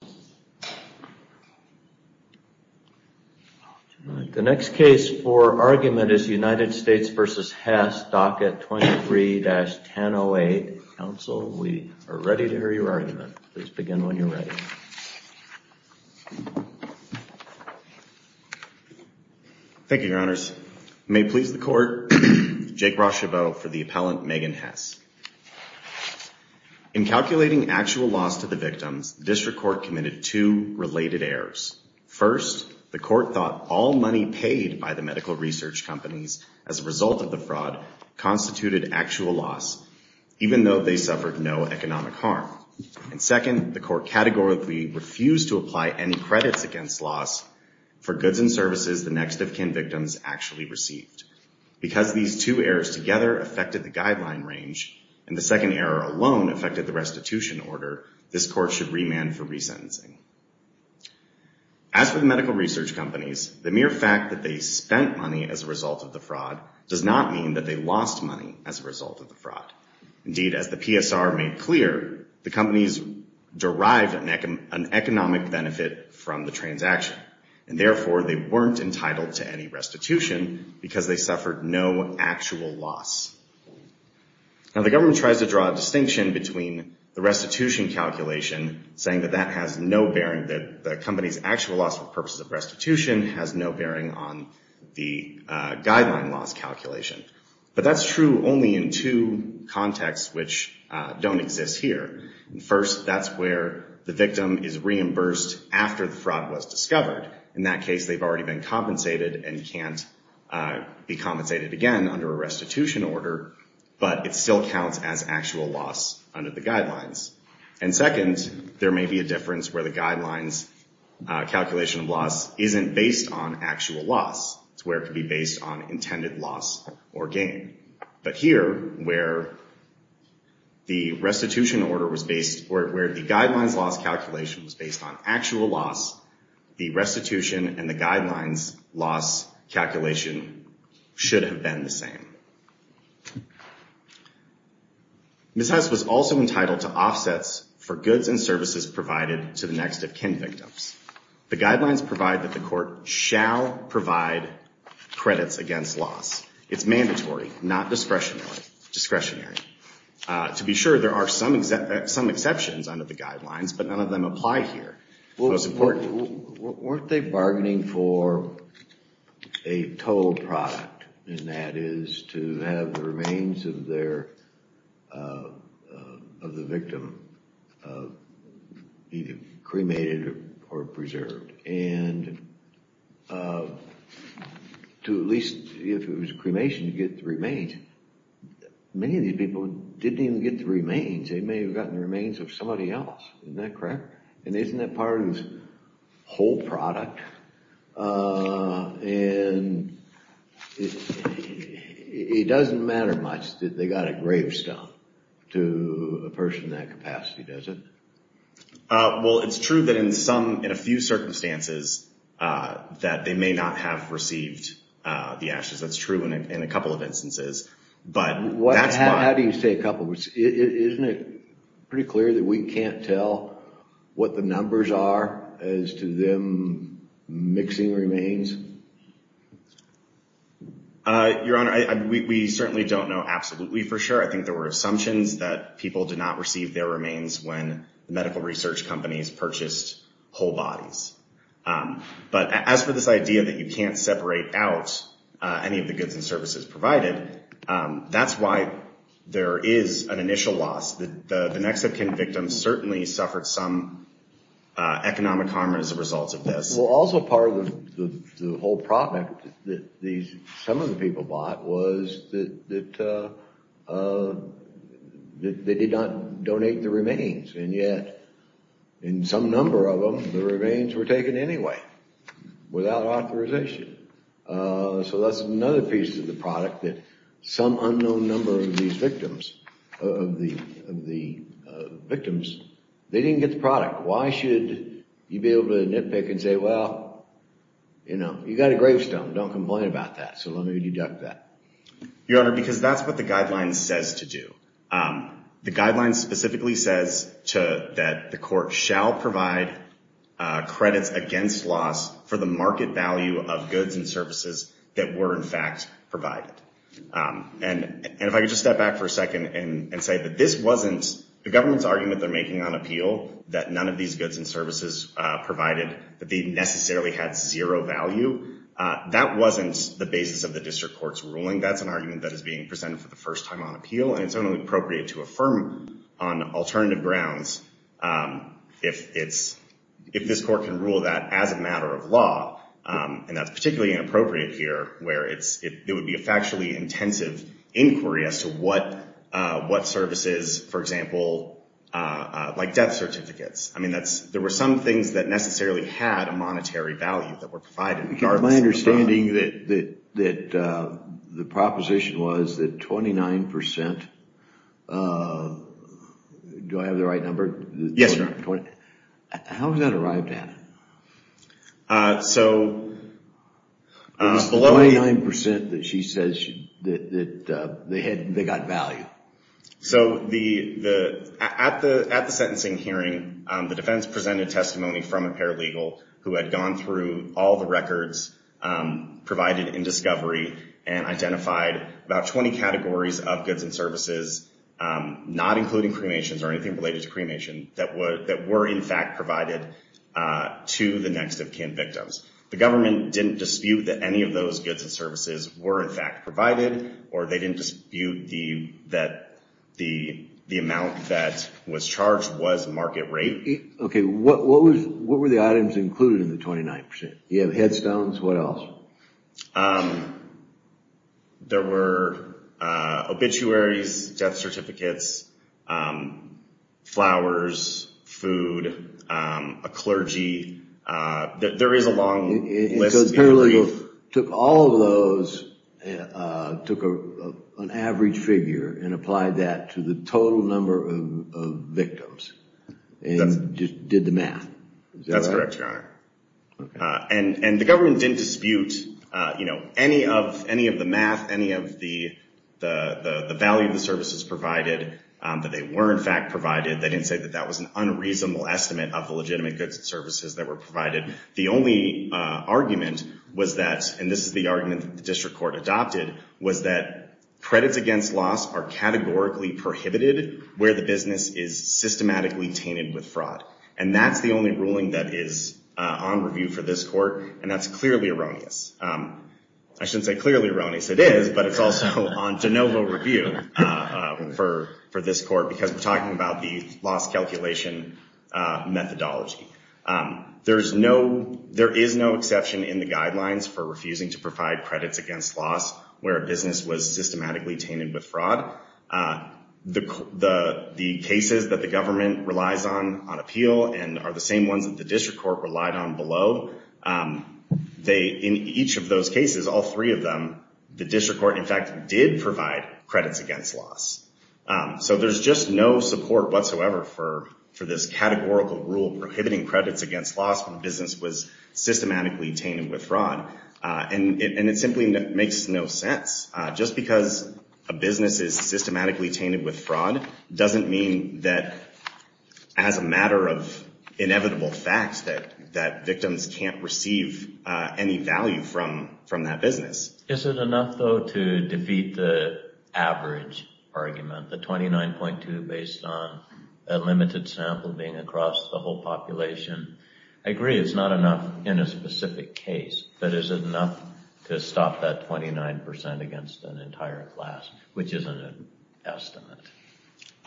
docket 23-1008. Counsel, we are ready to hear your argument. Please begin when you're ready. Thank you, your honors. May it please the court, Jake Rocheveau for the appellant Megan Hess. In calculating actual loss to the victims, the district court committed two related errors. First, the court thought all money paid by the medical research companies as a result of the fraud constituted actual loss, even though they suffered no economic harm. Second, the court categorically refused to apply any credits against loss for goods and services the next of kin victims actually received. Because these two errors together affected the guideline range, and the second error alone affected the restitution order, this court should remand for resentencing. As for the medical research companies, the mere fact that they spent money as a result of the fraud does not mean that they lost money as a result of the fraud. Indeed, as the PSR made clear, the companies derived an economic benefit from the transaction, and therefore, they weren't entitled to any restitution because they suffered no actual loss. Now, the government tries to draw a distinction between the restitution calculation saying that that has no bearing, that the company's actual loss for purposes of restitution has no bearing on the guideline loss calculation. But that's true only in two contexts which don't exist here. First, that's where the victim is reimbursed after the fraud was discovered. In that case, they've already been compensated and can't be compensated again under a restitution order, but it still counts as actual loss under the guidelines. And second, there may be a difference where the guidelines calculation of loss isn't based on actual loss. It's where it could be based on intended loss or gain. But here, where the guidelines loss calculation was based on actual loss, the restitution and the guidelines loss calculation should have been the same. Ms. Hess was also entitled to offsets for goods and services provided to the next of kin victims. The guidelines provide that the To be sure, there are some exceptions under the guidelines, but none of them apply here. Weren't they bargaining for a total product, and that is to have the remains of the victim either cremated or preserved? And to at least, if it was a cremation, to get the remains. Many of these people didn't even get the remains. They may have gotten the remains of somebody else. Isn't that correct? And isn't that part of this whole product? And it doesn't matter much that they got a gravestone to a person in that capacity, does it? Well, it's true that in some, in a few circumstances, that they may not have received the ashes. That's true in a couple of instances. How do you say a couple? Isn't it pretty clear that we can't tell what the numbers are as to them mixing remains? Your Honor, we certainly don't know absolutely for sure. I think there were assumptions that people did not receive their remains when the medical research companies purchased whole quantities of the remains, and they didn't receive any of the goods and services provided. That's why there is an initial loss. The Nexipkin victims certainly suffered some economic harm as a result of this. Well, also part of the whole product that some of the people bought was that they did not donate the remains, and yet in some number of them, the remains were taken anyway without authorization. So that's another piece of the product that some unknown number of these victims, they didn't get the product. Why should you be able to nitpick and say, well, you know, you got a gravestone. Don't complain about that. So let me deduct that. Your Honor, because that's what the guideline says to do. The guideline specifically says that the court shall provide credits against loss for the market value of goods and services that were in fact provided. And if I could just step back for a second and say that this wasn't the government's argument they're making on appeal, that none of these goods and services provided, that they necessarily had zero value. That wasn't the basis of the district court's ruling. That's an argument that is being presented for the first time on appeal, and it's only appropriate to affirm on alternative grounds if this court can rule that as a matter of law, and that's particularly inappropriate here where it would be a factually intensive inquiry as to what services, for example, like death certificates. I mean, there were some things that necessarily had a monetary value that were provided. My understanding that the proposition was that 29 percent, do I have the right number? Yes, Your Honor. How was that arrived at? So... It was 29 percent that she says that they got value. So at the sentencing hearing, the defense presented testimony from a paralegal who had gone through all the records provided in discovery and identified about 20 categories of goods and services, not including cremations or anything related to cremation, that were in fact provided to the next of kin victims. The government didn't dispute that any of those goods and services were in fact provided, or they didn't dispute that the amount that was charged was market rate. Okay, what were the items included in the 29 percent? You have headstones, what else? There were obituaries, death certificates, flowers, food, a clergy. There is a long list. So the paralegal took all of those, took an average figure and applied that to the total number of victims, and did the math. That's correct, Your Honor. And the government didn't dispute any of the math, any of the value of the services provided, that they were in fact provided. They didn't say that that was an unreasonable estimate of the legitimate goods and services that were provided. The only argument was that, and this is the argument that the district court adopted, was that the business was systematically tainted with fraud. And that's the only ruling that is on review for this court, and that's clearly erroneous. I shouldn't say clearly erroneous, it is, but it's also on de novo review for this court, because we're talking about the loss calculation methodology. There is no exception in the guidelines for refusing to provide credits against loss, where a business was systematically tainted with fraud. The cases that the government relies on, on appeal, and are the same ones that the district court relied on below, in each of those cases, all three of them, the district court in fact did provide credits against loss. So there's just no support whatsoever for this categorical rule prohibiting credits against loss when a business was systematically tainted with fraud. And it simply makes no sense. Just because a business is systematically tainted with fraud doesn't mean that, as a matter of inevitable fact, that victims can't receive any value from that business. Is it enough though to defeat the average argument, the 29.2 based on a limited sample being across the whole population? I agree it's not enough in a specific case, but is it enough to stop that 29% against an entire class, which isn't an estimate?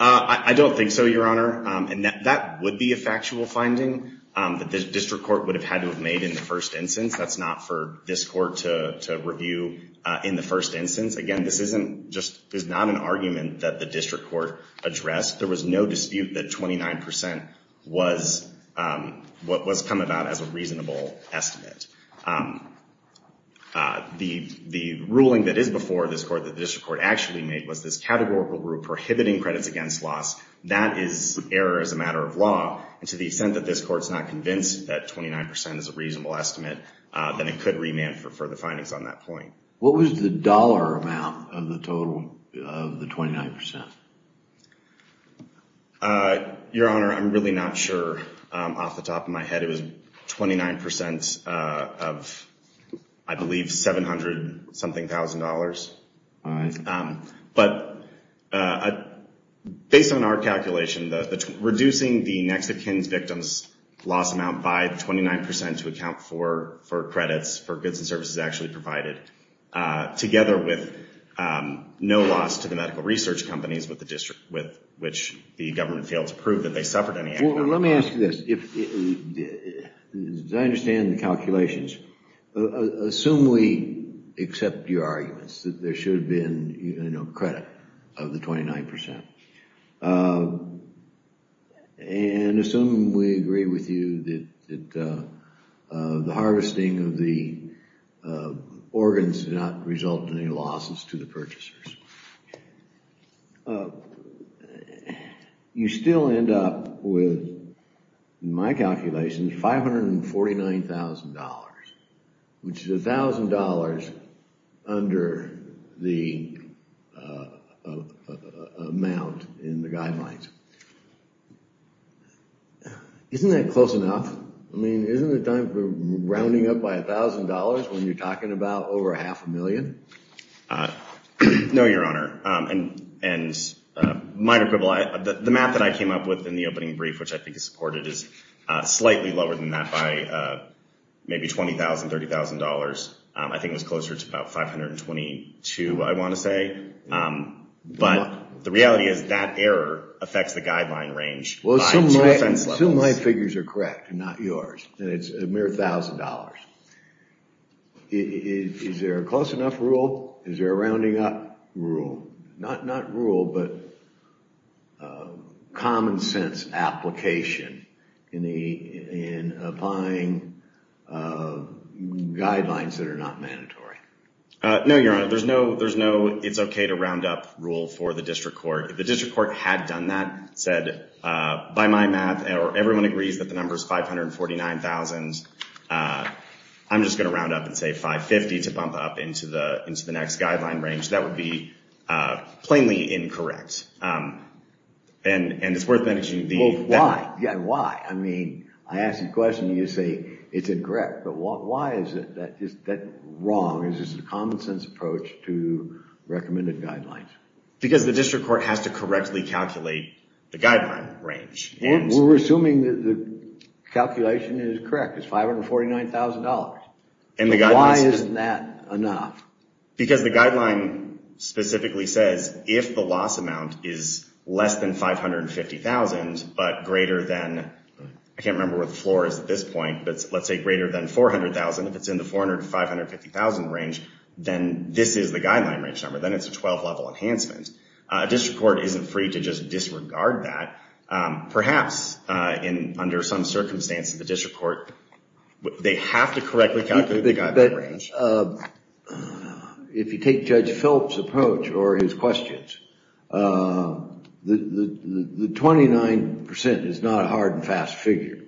I don't think so, Your Honor. And that would be a factual finding that the district court would have had to have made in the first instance. That's not for this court to review in the first instance. Again, this is not an argument that the district court addressed. There was no dispute that 29% was what was come about as a reasonable estimate. The ruling that is before this court, that the district court actually made, was this categorical rule prohibiting credits against loss. That is error as a matter of law. And to the extent that this court's not convinced that 29% is a reasonable estimate, then it could remand for further findings on that point. What was the dollar amount of the total of the 29%? Your Honor, I'm really not sure off the top of my head. It was 29% of the total of the I believe $700-something thousand dollars. But based on our calculation, reducing the Nexah-Kinns victims' loss amount by 29% to account for credits for goods and services actually provided, together with no loss to the medical research companies with which the government failed to prove that they suffered any economic loss. Let me ask you this. As I understand the calculations, assume we accept your arguments that there should have been credit of the 29%. And assume we agree with you that the harvesting of the organs did not result in any losses to the purchasers. You still end up with a credit in my calculation of $549,000, which is $1,000 under the amount in the guidelines. Isn't that close enough? I mean, isn't it time for rounding up by $1,000 when you're talking about the $549,000? No, Your Honor. And the math that I came up with in the opening brief, which I think is supported, is slightly lower than that by maybe $20,000, $30,000. I think it was closer to about $522,000, I want to say. But the reality is that error affects the guideline range by two offense levels. Assume my figures are correct and not yours, and it's a mere $1,000. Is there a close enough rule? Is there a rounding up rule? Not rule, but common sense application in applying guidelines that are not mandatory. No, Your Honor. There's no it's okay to round up rule for the district court. If the district court had done that, said, by my math, everyone agrees that the number is $549,000, I'm just going to round up and say $550,000 to bump up into the next guideline range, that would be plainly incorrect. And it's worth mentioning the... Well, why? Yeah, why? I mean, I ask you a question and you say it's incorrect. But why is that wrong? Is this a common sense approach to recommended guidelines? Because the district court has to correctly calculate the guideline range. We're assuming that the calculation is correct. It's $549,000. Why isn't that enough? Because the guideline specifically says if the loss amount is less than $550,000, but greater than, I can't remember what the floor is at this point, but let's say greater than $400,000, if it's in the $400,000 to $550,000 range, then this is the guideline range number. Then it's a 12-level enhancement. A district court isn't free to just disregard that. Perhaps, under some circumstances, the they have to correctly calculate the guideline range. If you take Judge Philip's approach or his questions, the 29% is not a hard and fast figure.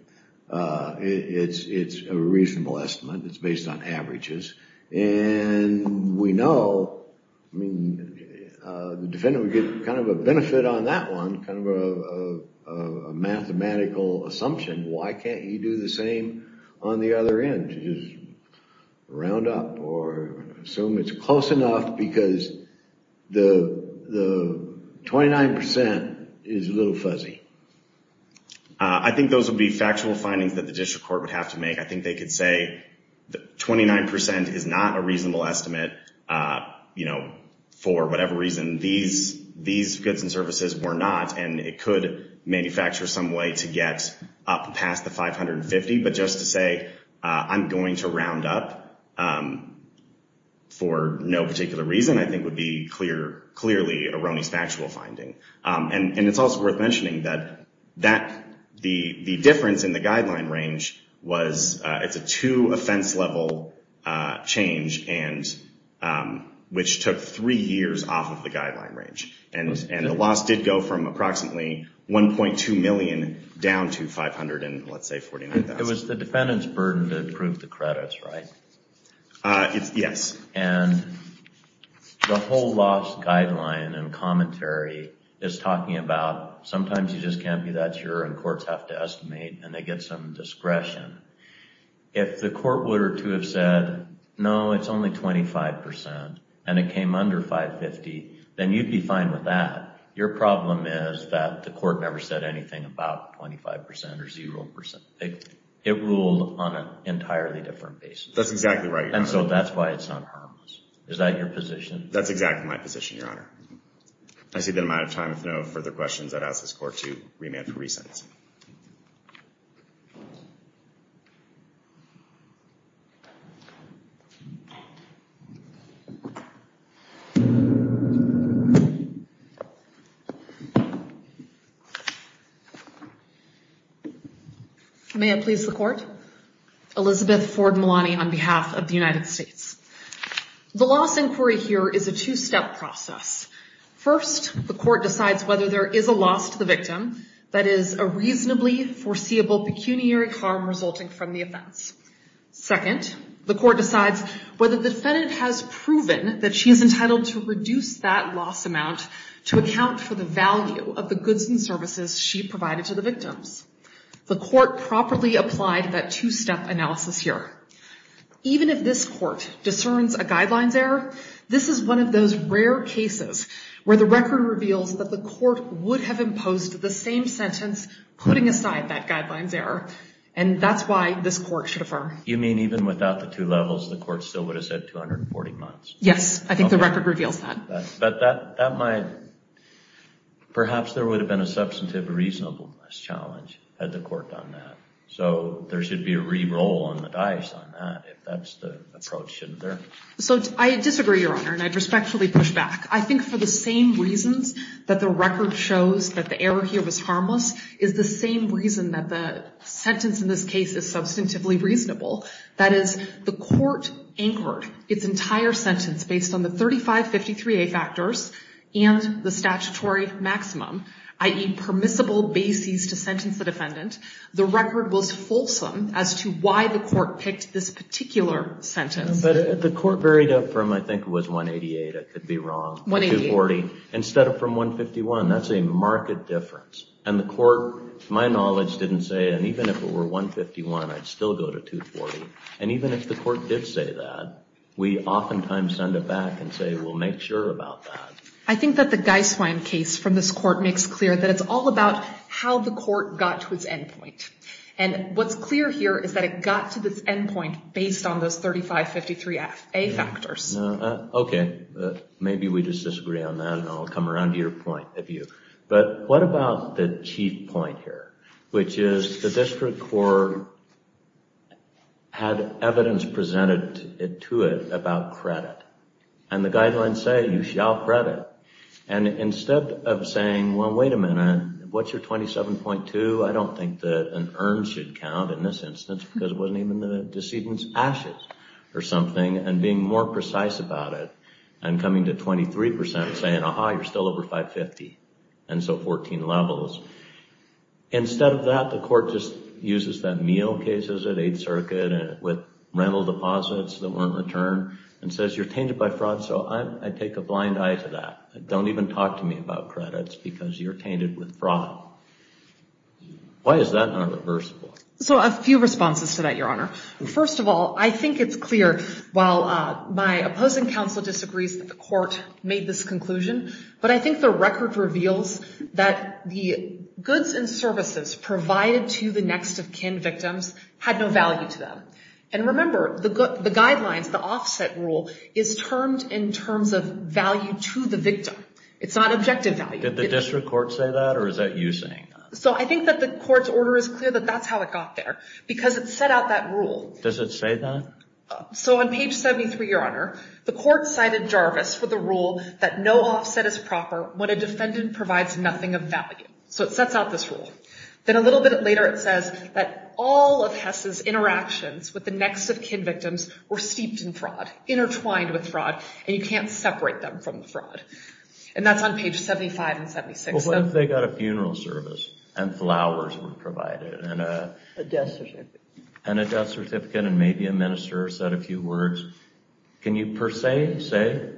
It's a reasonable estimate. It's based on averages. And we know, I mean, the defendant would get kind of a benefit on that one, kind of a mathematical assumption. Why can't you do the same on the other end? Just round up or assume it's close enough because the 29% is a little fuzzy. I think those would be factual findings that the district court would have to make. I think they could say that 29% is not a reasonable estimate for whatever reason. These goods and services were not, and it could manufacture some way to get up past the $550,000. But just to say, I'm going to round up for no particular reason, I think would be clearly a ronnie's factual finding. And it's also worth mentioning that the difference in the guideline range was it's a two offense level change, which took three years off of the guideline range. And a lot of that was lost. The loss did go from approximately $1.2 million down to $500,000, and let's say $49,000. It was the defendant's burden to prove the credits, right? Yes. And the whole loss guideline and commentary is talking about sometimes you just can't be that sure, and courts have to estimate, and they get some discretion. If the court were to have said, no, it's only 25%, and it came under $550,000, then you'd be fine with that. Your problem is that the court never said anything about 25% or 0%. It ruled on an entirely different basis. That's exactly right, Your Honor. And so that's why it's not harmless. Is that your position? That's exactly my position, Your Honor. I see that I'm out of time. If there are no further questions, I'd ask this Court to remand for re-sentence. May it please the Court. Elizabeth Ford Malani on behalf of the United States. The loss inquiry here is a two-step process. First, the court decides whether there is a loss to the victim that is a reasonably foreseeable pecuniary harm resulting from the offense. Second, the court decides whether the defendant has proven that she is entitled to reduce that loss amount to account for the value of the goods and services she provided to the victims. The court properly applied that two-step analysis here. Even if this court discerns a guidelines error, this is one of those rare cases where the record reveals that the court would have imposed the same sentence, putting aside that guidelines error, and that's why this court should affirm. You mean even without the two levels, the court still would have said 240 months? Yes, I think the record reveals that. Perhaps there would have been a substantive reasonableness challenge had the court done that, so there should be a re-roll on the dice on that if that's the approach, shouldn't there? I disagree, Your Honor, and I'd respectfully push back. I think for the same reasons that the record shows that the error here was harmless is the same reason that the sentence in this based on the 3553A factors and the statutory maximum, i.e. permissible basis to sentence the defendant, the record was fulsome as to why the court picked this particular sentence. The court varied up from, I think it was 188, I could be wrong, to 240, instead of from 151. That's a marked difference. And the court, to my knowledge, didn't say, and even if it did say that, we oftentimes send it back and say, we'll make sure about that. I think that the Geiswein case from this court makes clear that it's all about how the court got to its end point. And what's clear here is that it got to this end point based on those 3553A factors. Okay, maybe we just disagree on that, and I'll come around to your point, if you... But what about the chief point here, which is the district court had evidence presented it to it about credit. And the guidelines say, you shall credit. And instead of saying, well, wait a minute, what's your 27.2? I don't think that an urn should count in this instance, because it wasn't even the decedent's ashes or something, and being more precise about it and coming to 23% and saying, aha, you're still over 550, and so 14 levels. Instead of that, the court just uses that Mio case, is it, 8th Circuit, with rental deposits that weren't returned, and says, you're tainted by fraud, so I take a blind eye to that. Don't even talk to me about credits, because you're tainted with fraud. Why is that not reversible? So a few responses to that, Your Honor. First of all, I think it's clear, while my opposing counsel disagrees that the court made this conclusion, but I think the record reveals that the goods and services provided to the next of kin victims had no value to them. And remember, the guidelines, the offset rule, is termed in terms of value to the victim. It's not objective value. Did the district court say that, or is that you saying that? So I think that the court's order is clear that that's how it got there, because it set out that rule. Does it say that? So on page 73, Your Honor, the court cited Jarvis for the rule that no offset is proper when a defendant provides nothing of value. So it sets out this rule. Then a little bit later, it says that all of Hess's interactions with the next of kin victims were steeped in fraud, intertwined with fraud, and you can't separate them from the fraud. And that's on page 75 and 76. Well, what if they got a funeral service, and flowers were provided, and a death certificate, and maybe a minister said a few words? Can you per se say,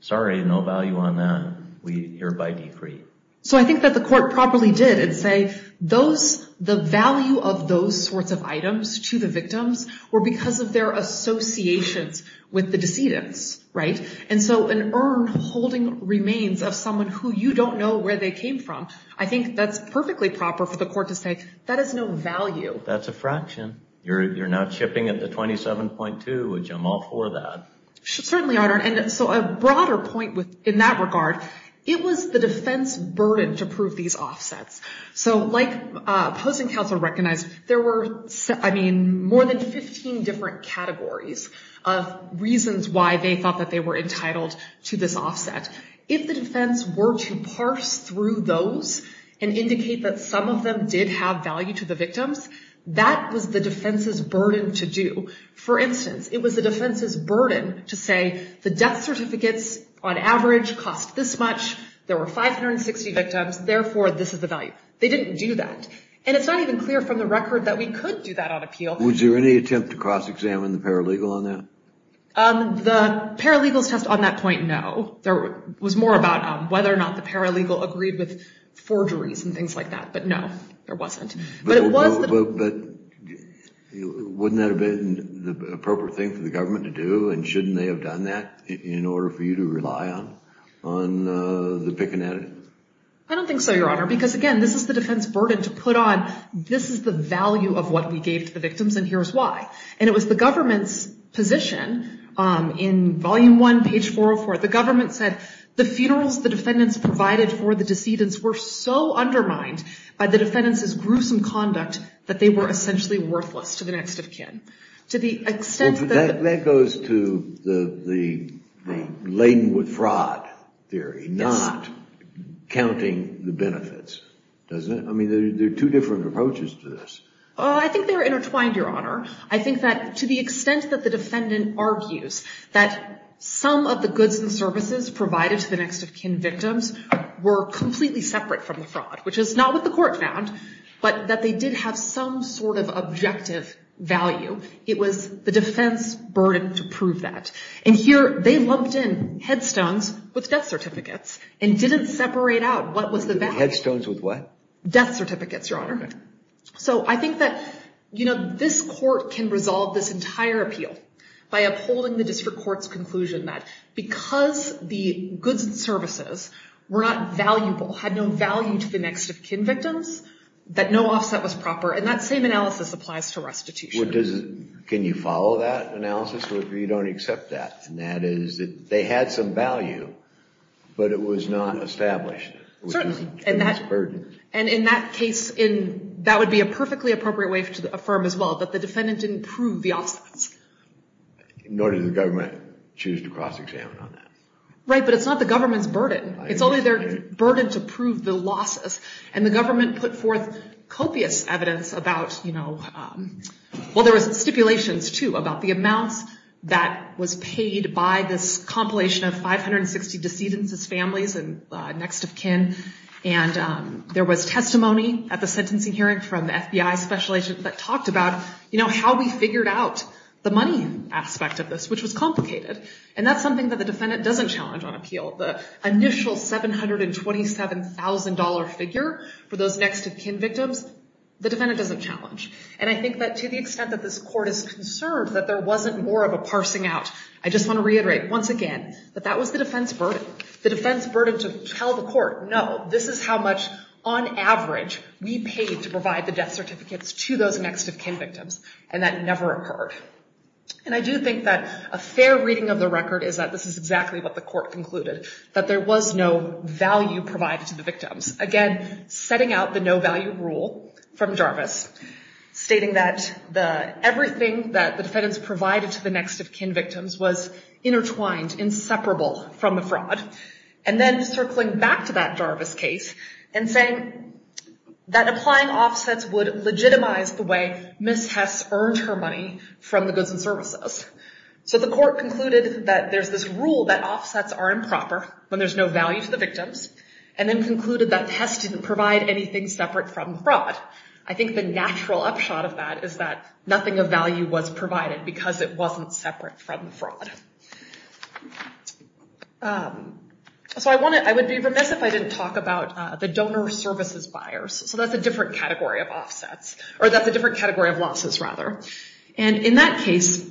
sorry, no value on that. We hereby decree. So I think that the court properly did, and say, the value of those sorts of items to the victims were because of their associations with the decedents, right? And so an urn holding remains of someone who you don't know where they came from, I think that's perfectly proper for the court to say, that has no value. That's a fraction. You're not chipping at the 27.2, which I'm all for that. Certainly, Your Honor. And so a broader point in that regard, it was the defense burden to prove these offsets. So like opposing counsel recognized, there were, I mean, more than 15 different categories of reasons why they thought that they were entitled to this offset. If the defense were to parse through those and indicate that some of them did have value to the victims, that was the defense's burden to do. For instance, it was the defense's burden to say, the death certificates on average cost this much, there were 560 victims, therefore, this is the value. They didn't do that. And it's not even clear from the record that we could do that on appeal. Was there any attempt to cross-examine the paralegal on that? The paralegal's test on that point, no. There was more about whether or not the paralegal agreed with forgeries and things like that, but no, there wasn't. But it was the- But wouldn't that have been the appropriate thing for the government to do? And shouldn't they have done that in order for you to rely on the picking at it? I don't think so, Your Honor. Because again, this is the defense burden to put on, this is the value of what we gave to the victims, and here's why. And it was the government's position in volume one, page 404, the government said, the funerals the defendants provided for the decedents were so undermined by the defendants' gruesome conduct that they were essentially worthless to the next of kin. To the extent that- That goes to the laden with fraud theory, not counting the benefits, doesn't it? I mean, there are two different approaches to this. Oh, I think they're intertwined, Your Honor. I think that to the extent that the defendant argues that some of the goods and services provided to the next of kin victims were completely separate from the fraud, which is not what the court found, but that they did have some sort of objective value, it was the defense burden to prove that. And here, they lumped in headstones with death certificates and didn't separate out what was the value. Headstones with what? Death certificates, Your Honor. So I think that, you know, this court can resolve this entire appeal by upholding the district court's conclusion that because the goods and services were not valuable, had no value to the next of kin victims, that no offset was proper, and that same analysis applies to restitution. Can you follow that analysis, or you don't accept that? And that is that they had some value, but it was not established. Certainly. And that's a burden. And in that case, that would be a perfectly appropriate way to affirm as well, that the defendant didn't prove the offsets. Nor did the government choose to cross-examine on that. Right, but it's not the government's burden. It's only their burden to prove the losses. And the government put forth copious evidence about, you know, well, there was stipulations, too, about the amounts that was paid by this compilation of 560 decedents as families and next of kin. And there was testimony at the sentencing hearing from FBI special agents that talked about, you know, how we figured out the money aspect of this, which was complicated. And that's something that the defendant doesn't challenge on appeal. The initial $727,000 figure for those next of kin victims, the defendant doesn't challenge. And I think that to the extent that this court is concerned that there wasn't more of a parsing out, I just want to reiterate once again that that was the defense burden. The defense burden to tell the court, no, this is how much, on average, we paid to provide the death certificates to those next of kin victims. And that never occurred. And I do think that a fair reading of the record is that this is exactly what the court concluded, that there was no value provided to the victims. Again, setting out the no value rule from Jarvis, stating that everything that the defendants provided to the next of kin victims was intertwined, inseparable from the fraud. And then circling back to that Jarvis case and saying that applying offsets would legitimize the way Ms. Hess earned her money from the goods and services. So the court concluded that there's this rule that offsets are improper when there's no value to the victims. And then concluded that Hess didn't provide anything separate from fraud. I think the natural upshot of that is that nothing of value was provided because it wasn't separate from fraud. So I would be remiss if I didn't talk about the donor services buyers. So that's a different category of offsets. Or that's a different category of losses, rather. And in that case,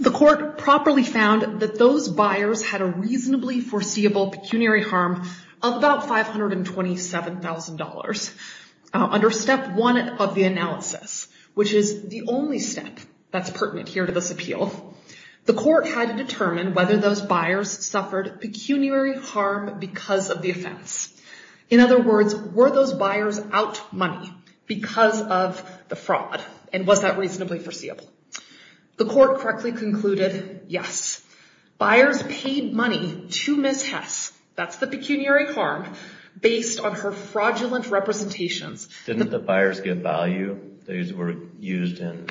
the court properly found that those buyers had a reasonably foreseeable pecuniary harm of about $527,000. Under step one of the analysis, which is the only step that's pertinent here to this appeal, the court had to determine whether those buyers suffered pecuniary harm because of the offense. In other words, were those buyers out money because of the fraud? And was that reasonably foreseeable? The court correctly concluded, yes. Buyers paid money to Ms. Hess, that's the pecuniary harm, based on her fraudulent representations. Didn't the buyers get value? They were used in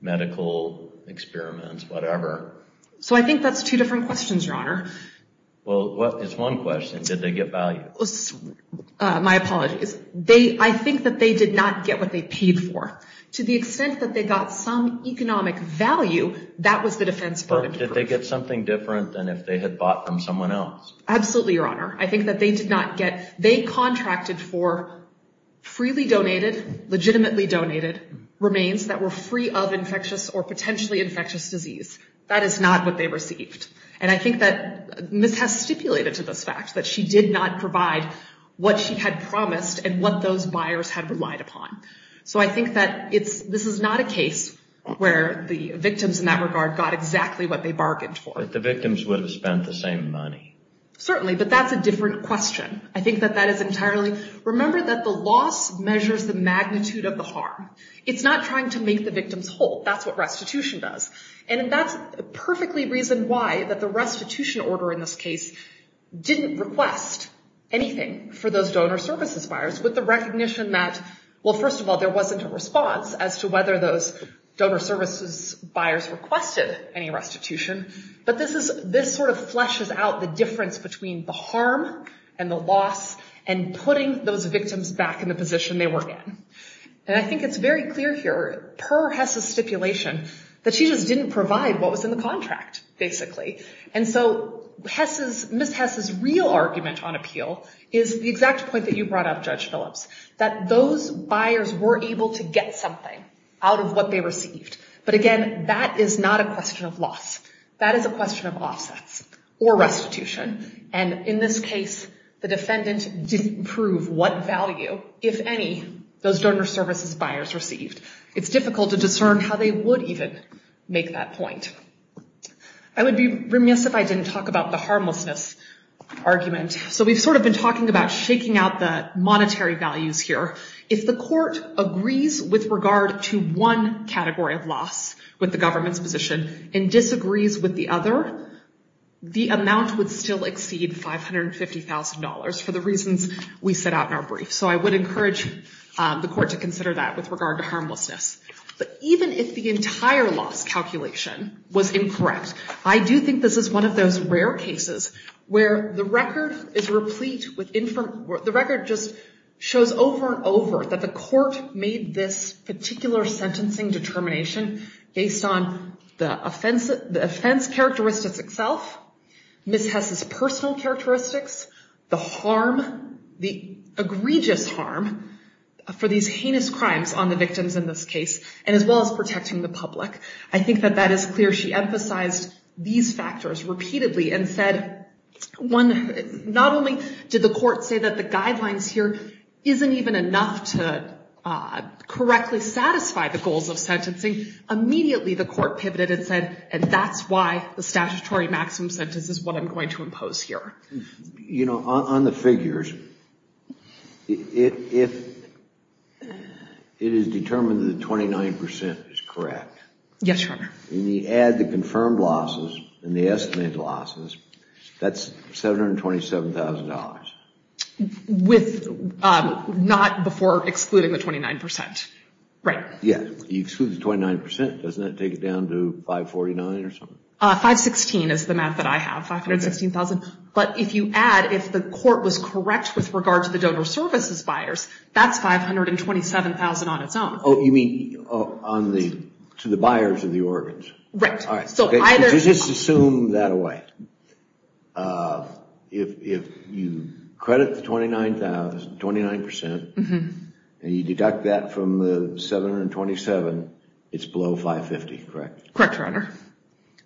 medical experiments, whatever. So I think that's two different questions, Your Honor. Well, it's one question. Did they get value? My apologies. I think that they did not get what they paid for. To the extent that they got some economic value, that was the defense burden. But did they get something different than if they had bought from someone else? Absolutely, Your Honor. I think that they did not get. They contracted for freely donated, legitimately donated remains that were free of infectious or potentially infectious disease. That is not what they received. And I think that Ms. Hess stipulated to this fact that she did not provide what she had promised and what those buyers had relied upon. So I think that this is not a case where the victims in that regard got exactly what they bargained for. But the victims would have spent the same money. Certainly, but that's a different question. I think that that is entirely. Remember that the loss measures the magnitude of the harm. It's not trying to make the victims whole. That's what restitution does. And that's a perfectly reason why that the restitution order in this case didn't request anything for those donor services buyers with the recognition that, well, first of all, there wasn't a response as to whether those donor services buyers requested any restitution. But this sort of fleshes out the difference between the harm and the loss and putting those victims back in the position they were in. And I think it's very clear here, per Hess's stipulation, that she just didn't provide what was in the contract, basically. And so Ms. Hess's real argument on appeal is the exact point that you brought up, Judge Phillips, that those buyers were able to get something out of what they received. But again, that is not a question of loss. That is a question of offsets or restitution. And in this case, the defendant didn't prove what value, if any, those donor services buyers received. It's difficult to discern how they would even make that point. I would be remiss if I didn't talk about the harmlessness argument. So we've sort of been talking about shaking out the monetary values here. If the court agrees with regard to one category of loss with the government's position and disagrees with the other, the amount would still exceed $550,000 for the reasons we set out in our brief. So I would encourage the court to consider that with regard to harmlessness. But even if the entire loss calculation was incorrect, I do think this is one of those rare cases where the record just shows over and over that the court made this particular sentencing determination based on the offense characteristics itself, Ms. Hess's personal characteristics, the harm, the egregious harm for these heinous crimes on the victims in this case, and as well as protecting the public. I think that that is clear. She emphasized these factors repeatedly and said, not only did the court say that the guidelines here isn't even enough to correctly satisfy the goals of sentencing. Immediately, the court pivoted and said, and that's why the statutory maximum sentence is what I'm going to impose here. You know, on the figures, it is determined that 29% is correct. Yes, Your Honor. And you add the confirmed losses and the estimated losses, that's $727,000. Not before excluding the 29%, right? You exclude the 29%. Doesn't that take it down to $549,000 or something? $516,000 is the math that I have, $516,000. But if you add, if the court was correct with regard to the donor services buyers, that's $527,000 on its own. Oh, you mean to the buyers of the organs? Right. All right. Just assume that away. If you credit the $29,000, 29%, and you deduct that from the $727,000, it's below $550,000, correct? Correct, Your Honor.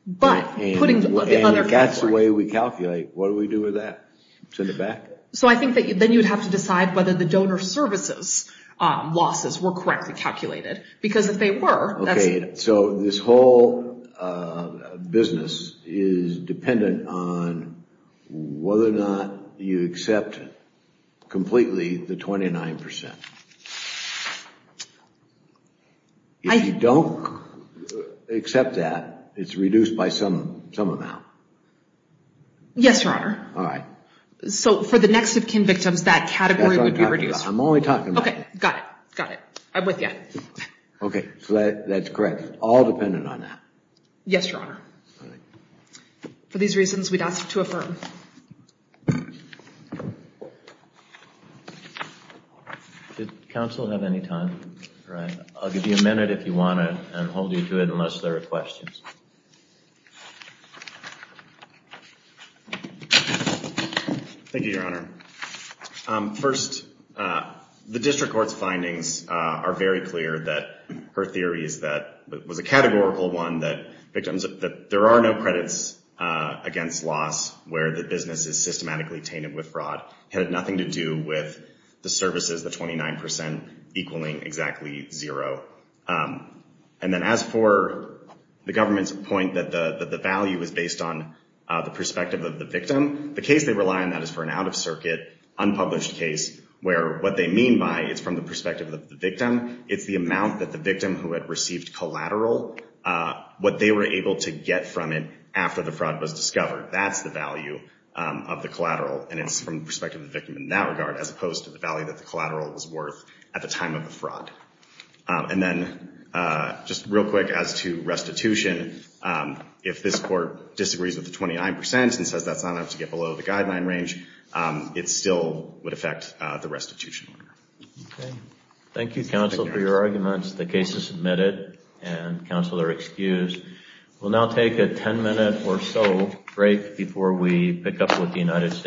But putting the other thing forward. And if that's the way we calculate, what do we do with that? Send it back? So I think that then you would have to decide whether the donor services losses were correctly calculated. Because if they were, that's. So this whole business is dependent on whether or not you accept completely the 29%. If you don't accept that, it's reduced by some amount. Yes, Your Honor. All right. So for the next of kin victims, that category would be reduced. That's what I'm talking about. I'm only talking about that. OK, got it. Got it. OK, so that's correct. All dependent on that. Yes, Your Honor. All right. For these reasons, we'd ask to affirm. Did counsel have any time? All right, I'll give you a minute if you want to, and hold you to it unless there are questions. Thank you, Your Honor. First, the district court's findings are very clear that her theory is that it was a categorical one, that there are no credits against loss where the business is systematically tainted with fraud. It had nothing to do with the services, the 29% equaling exactly zero. And then as for the government's point that the value is based on the perspective of the victim, the case they rely on that is for an out-of-circuit, unpublished case, where what they mean by it's from the perspective of the victim, it's the amount that the victim who had received collateral, what they were able to get from it after the fraud was discovered. That's the value of the collateral, and it's from the perspective of the victim in that regard, as opposed to the value that the collateral was worth at the time of the fraud. And then just real quick as to restitution, if this court disagrees with the 29% and says that's not enough to get below the guideline range, it still would affect the restitution order. OK. Thank you, counsel, for your arguments. The case is submitted, and counsel are excused. We'll now take a 10-minute or so break before we pick up with the United States.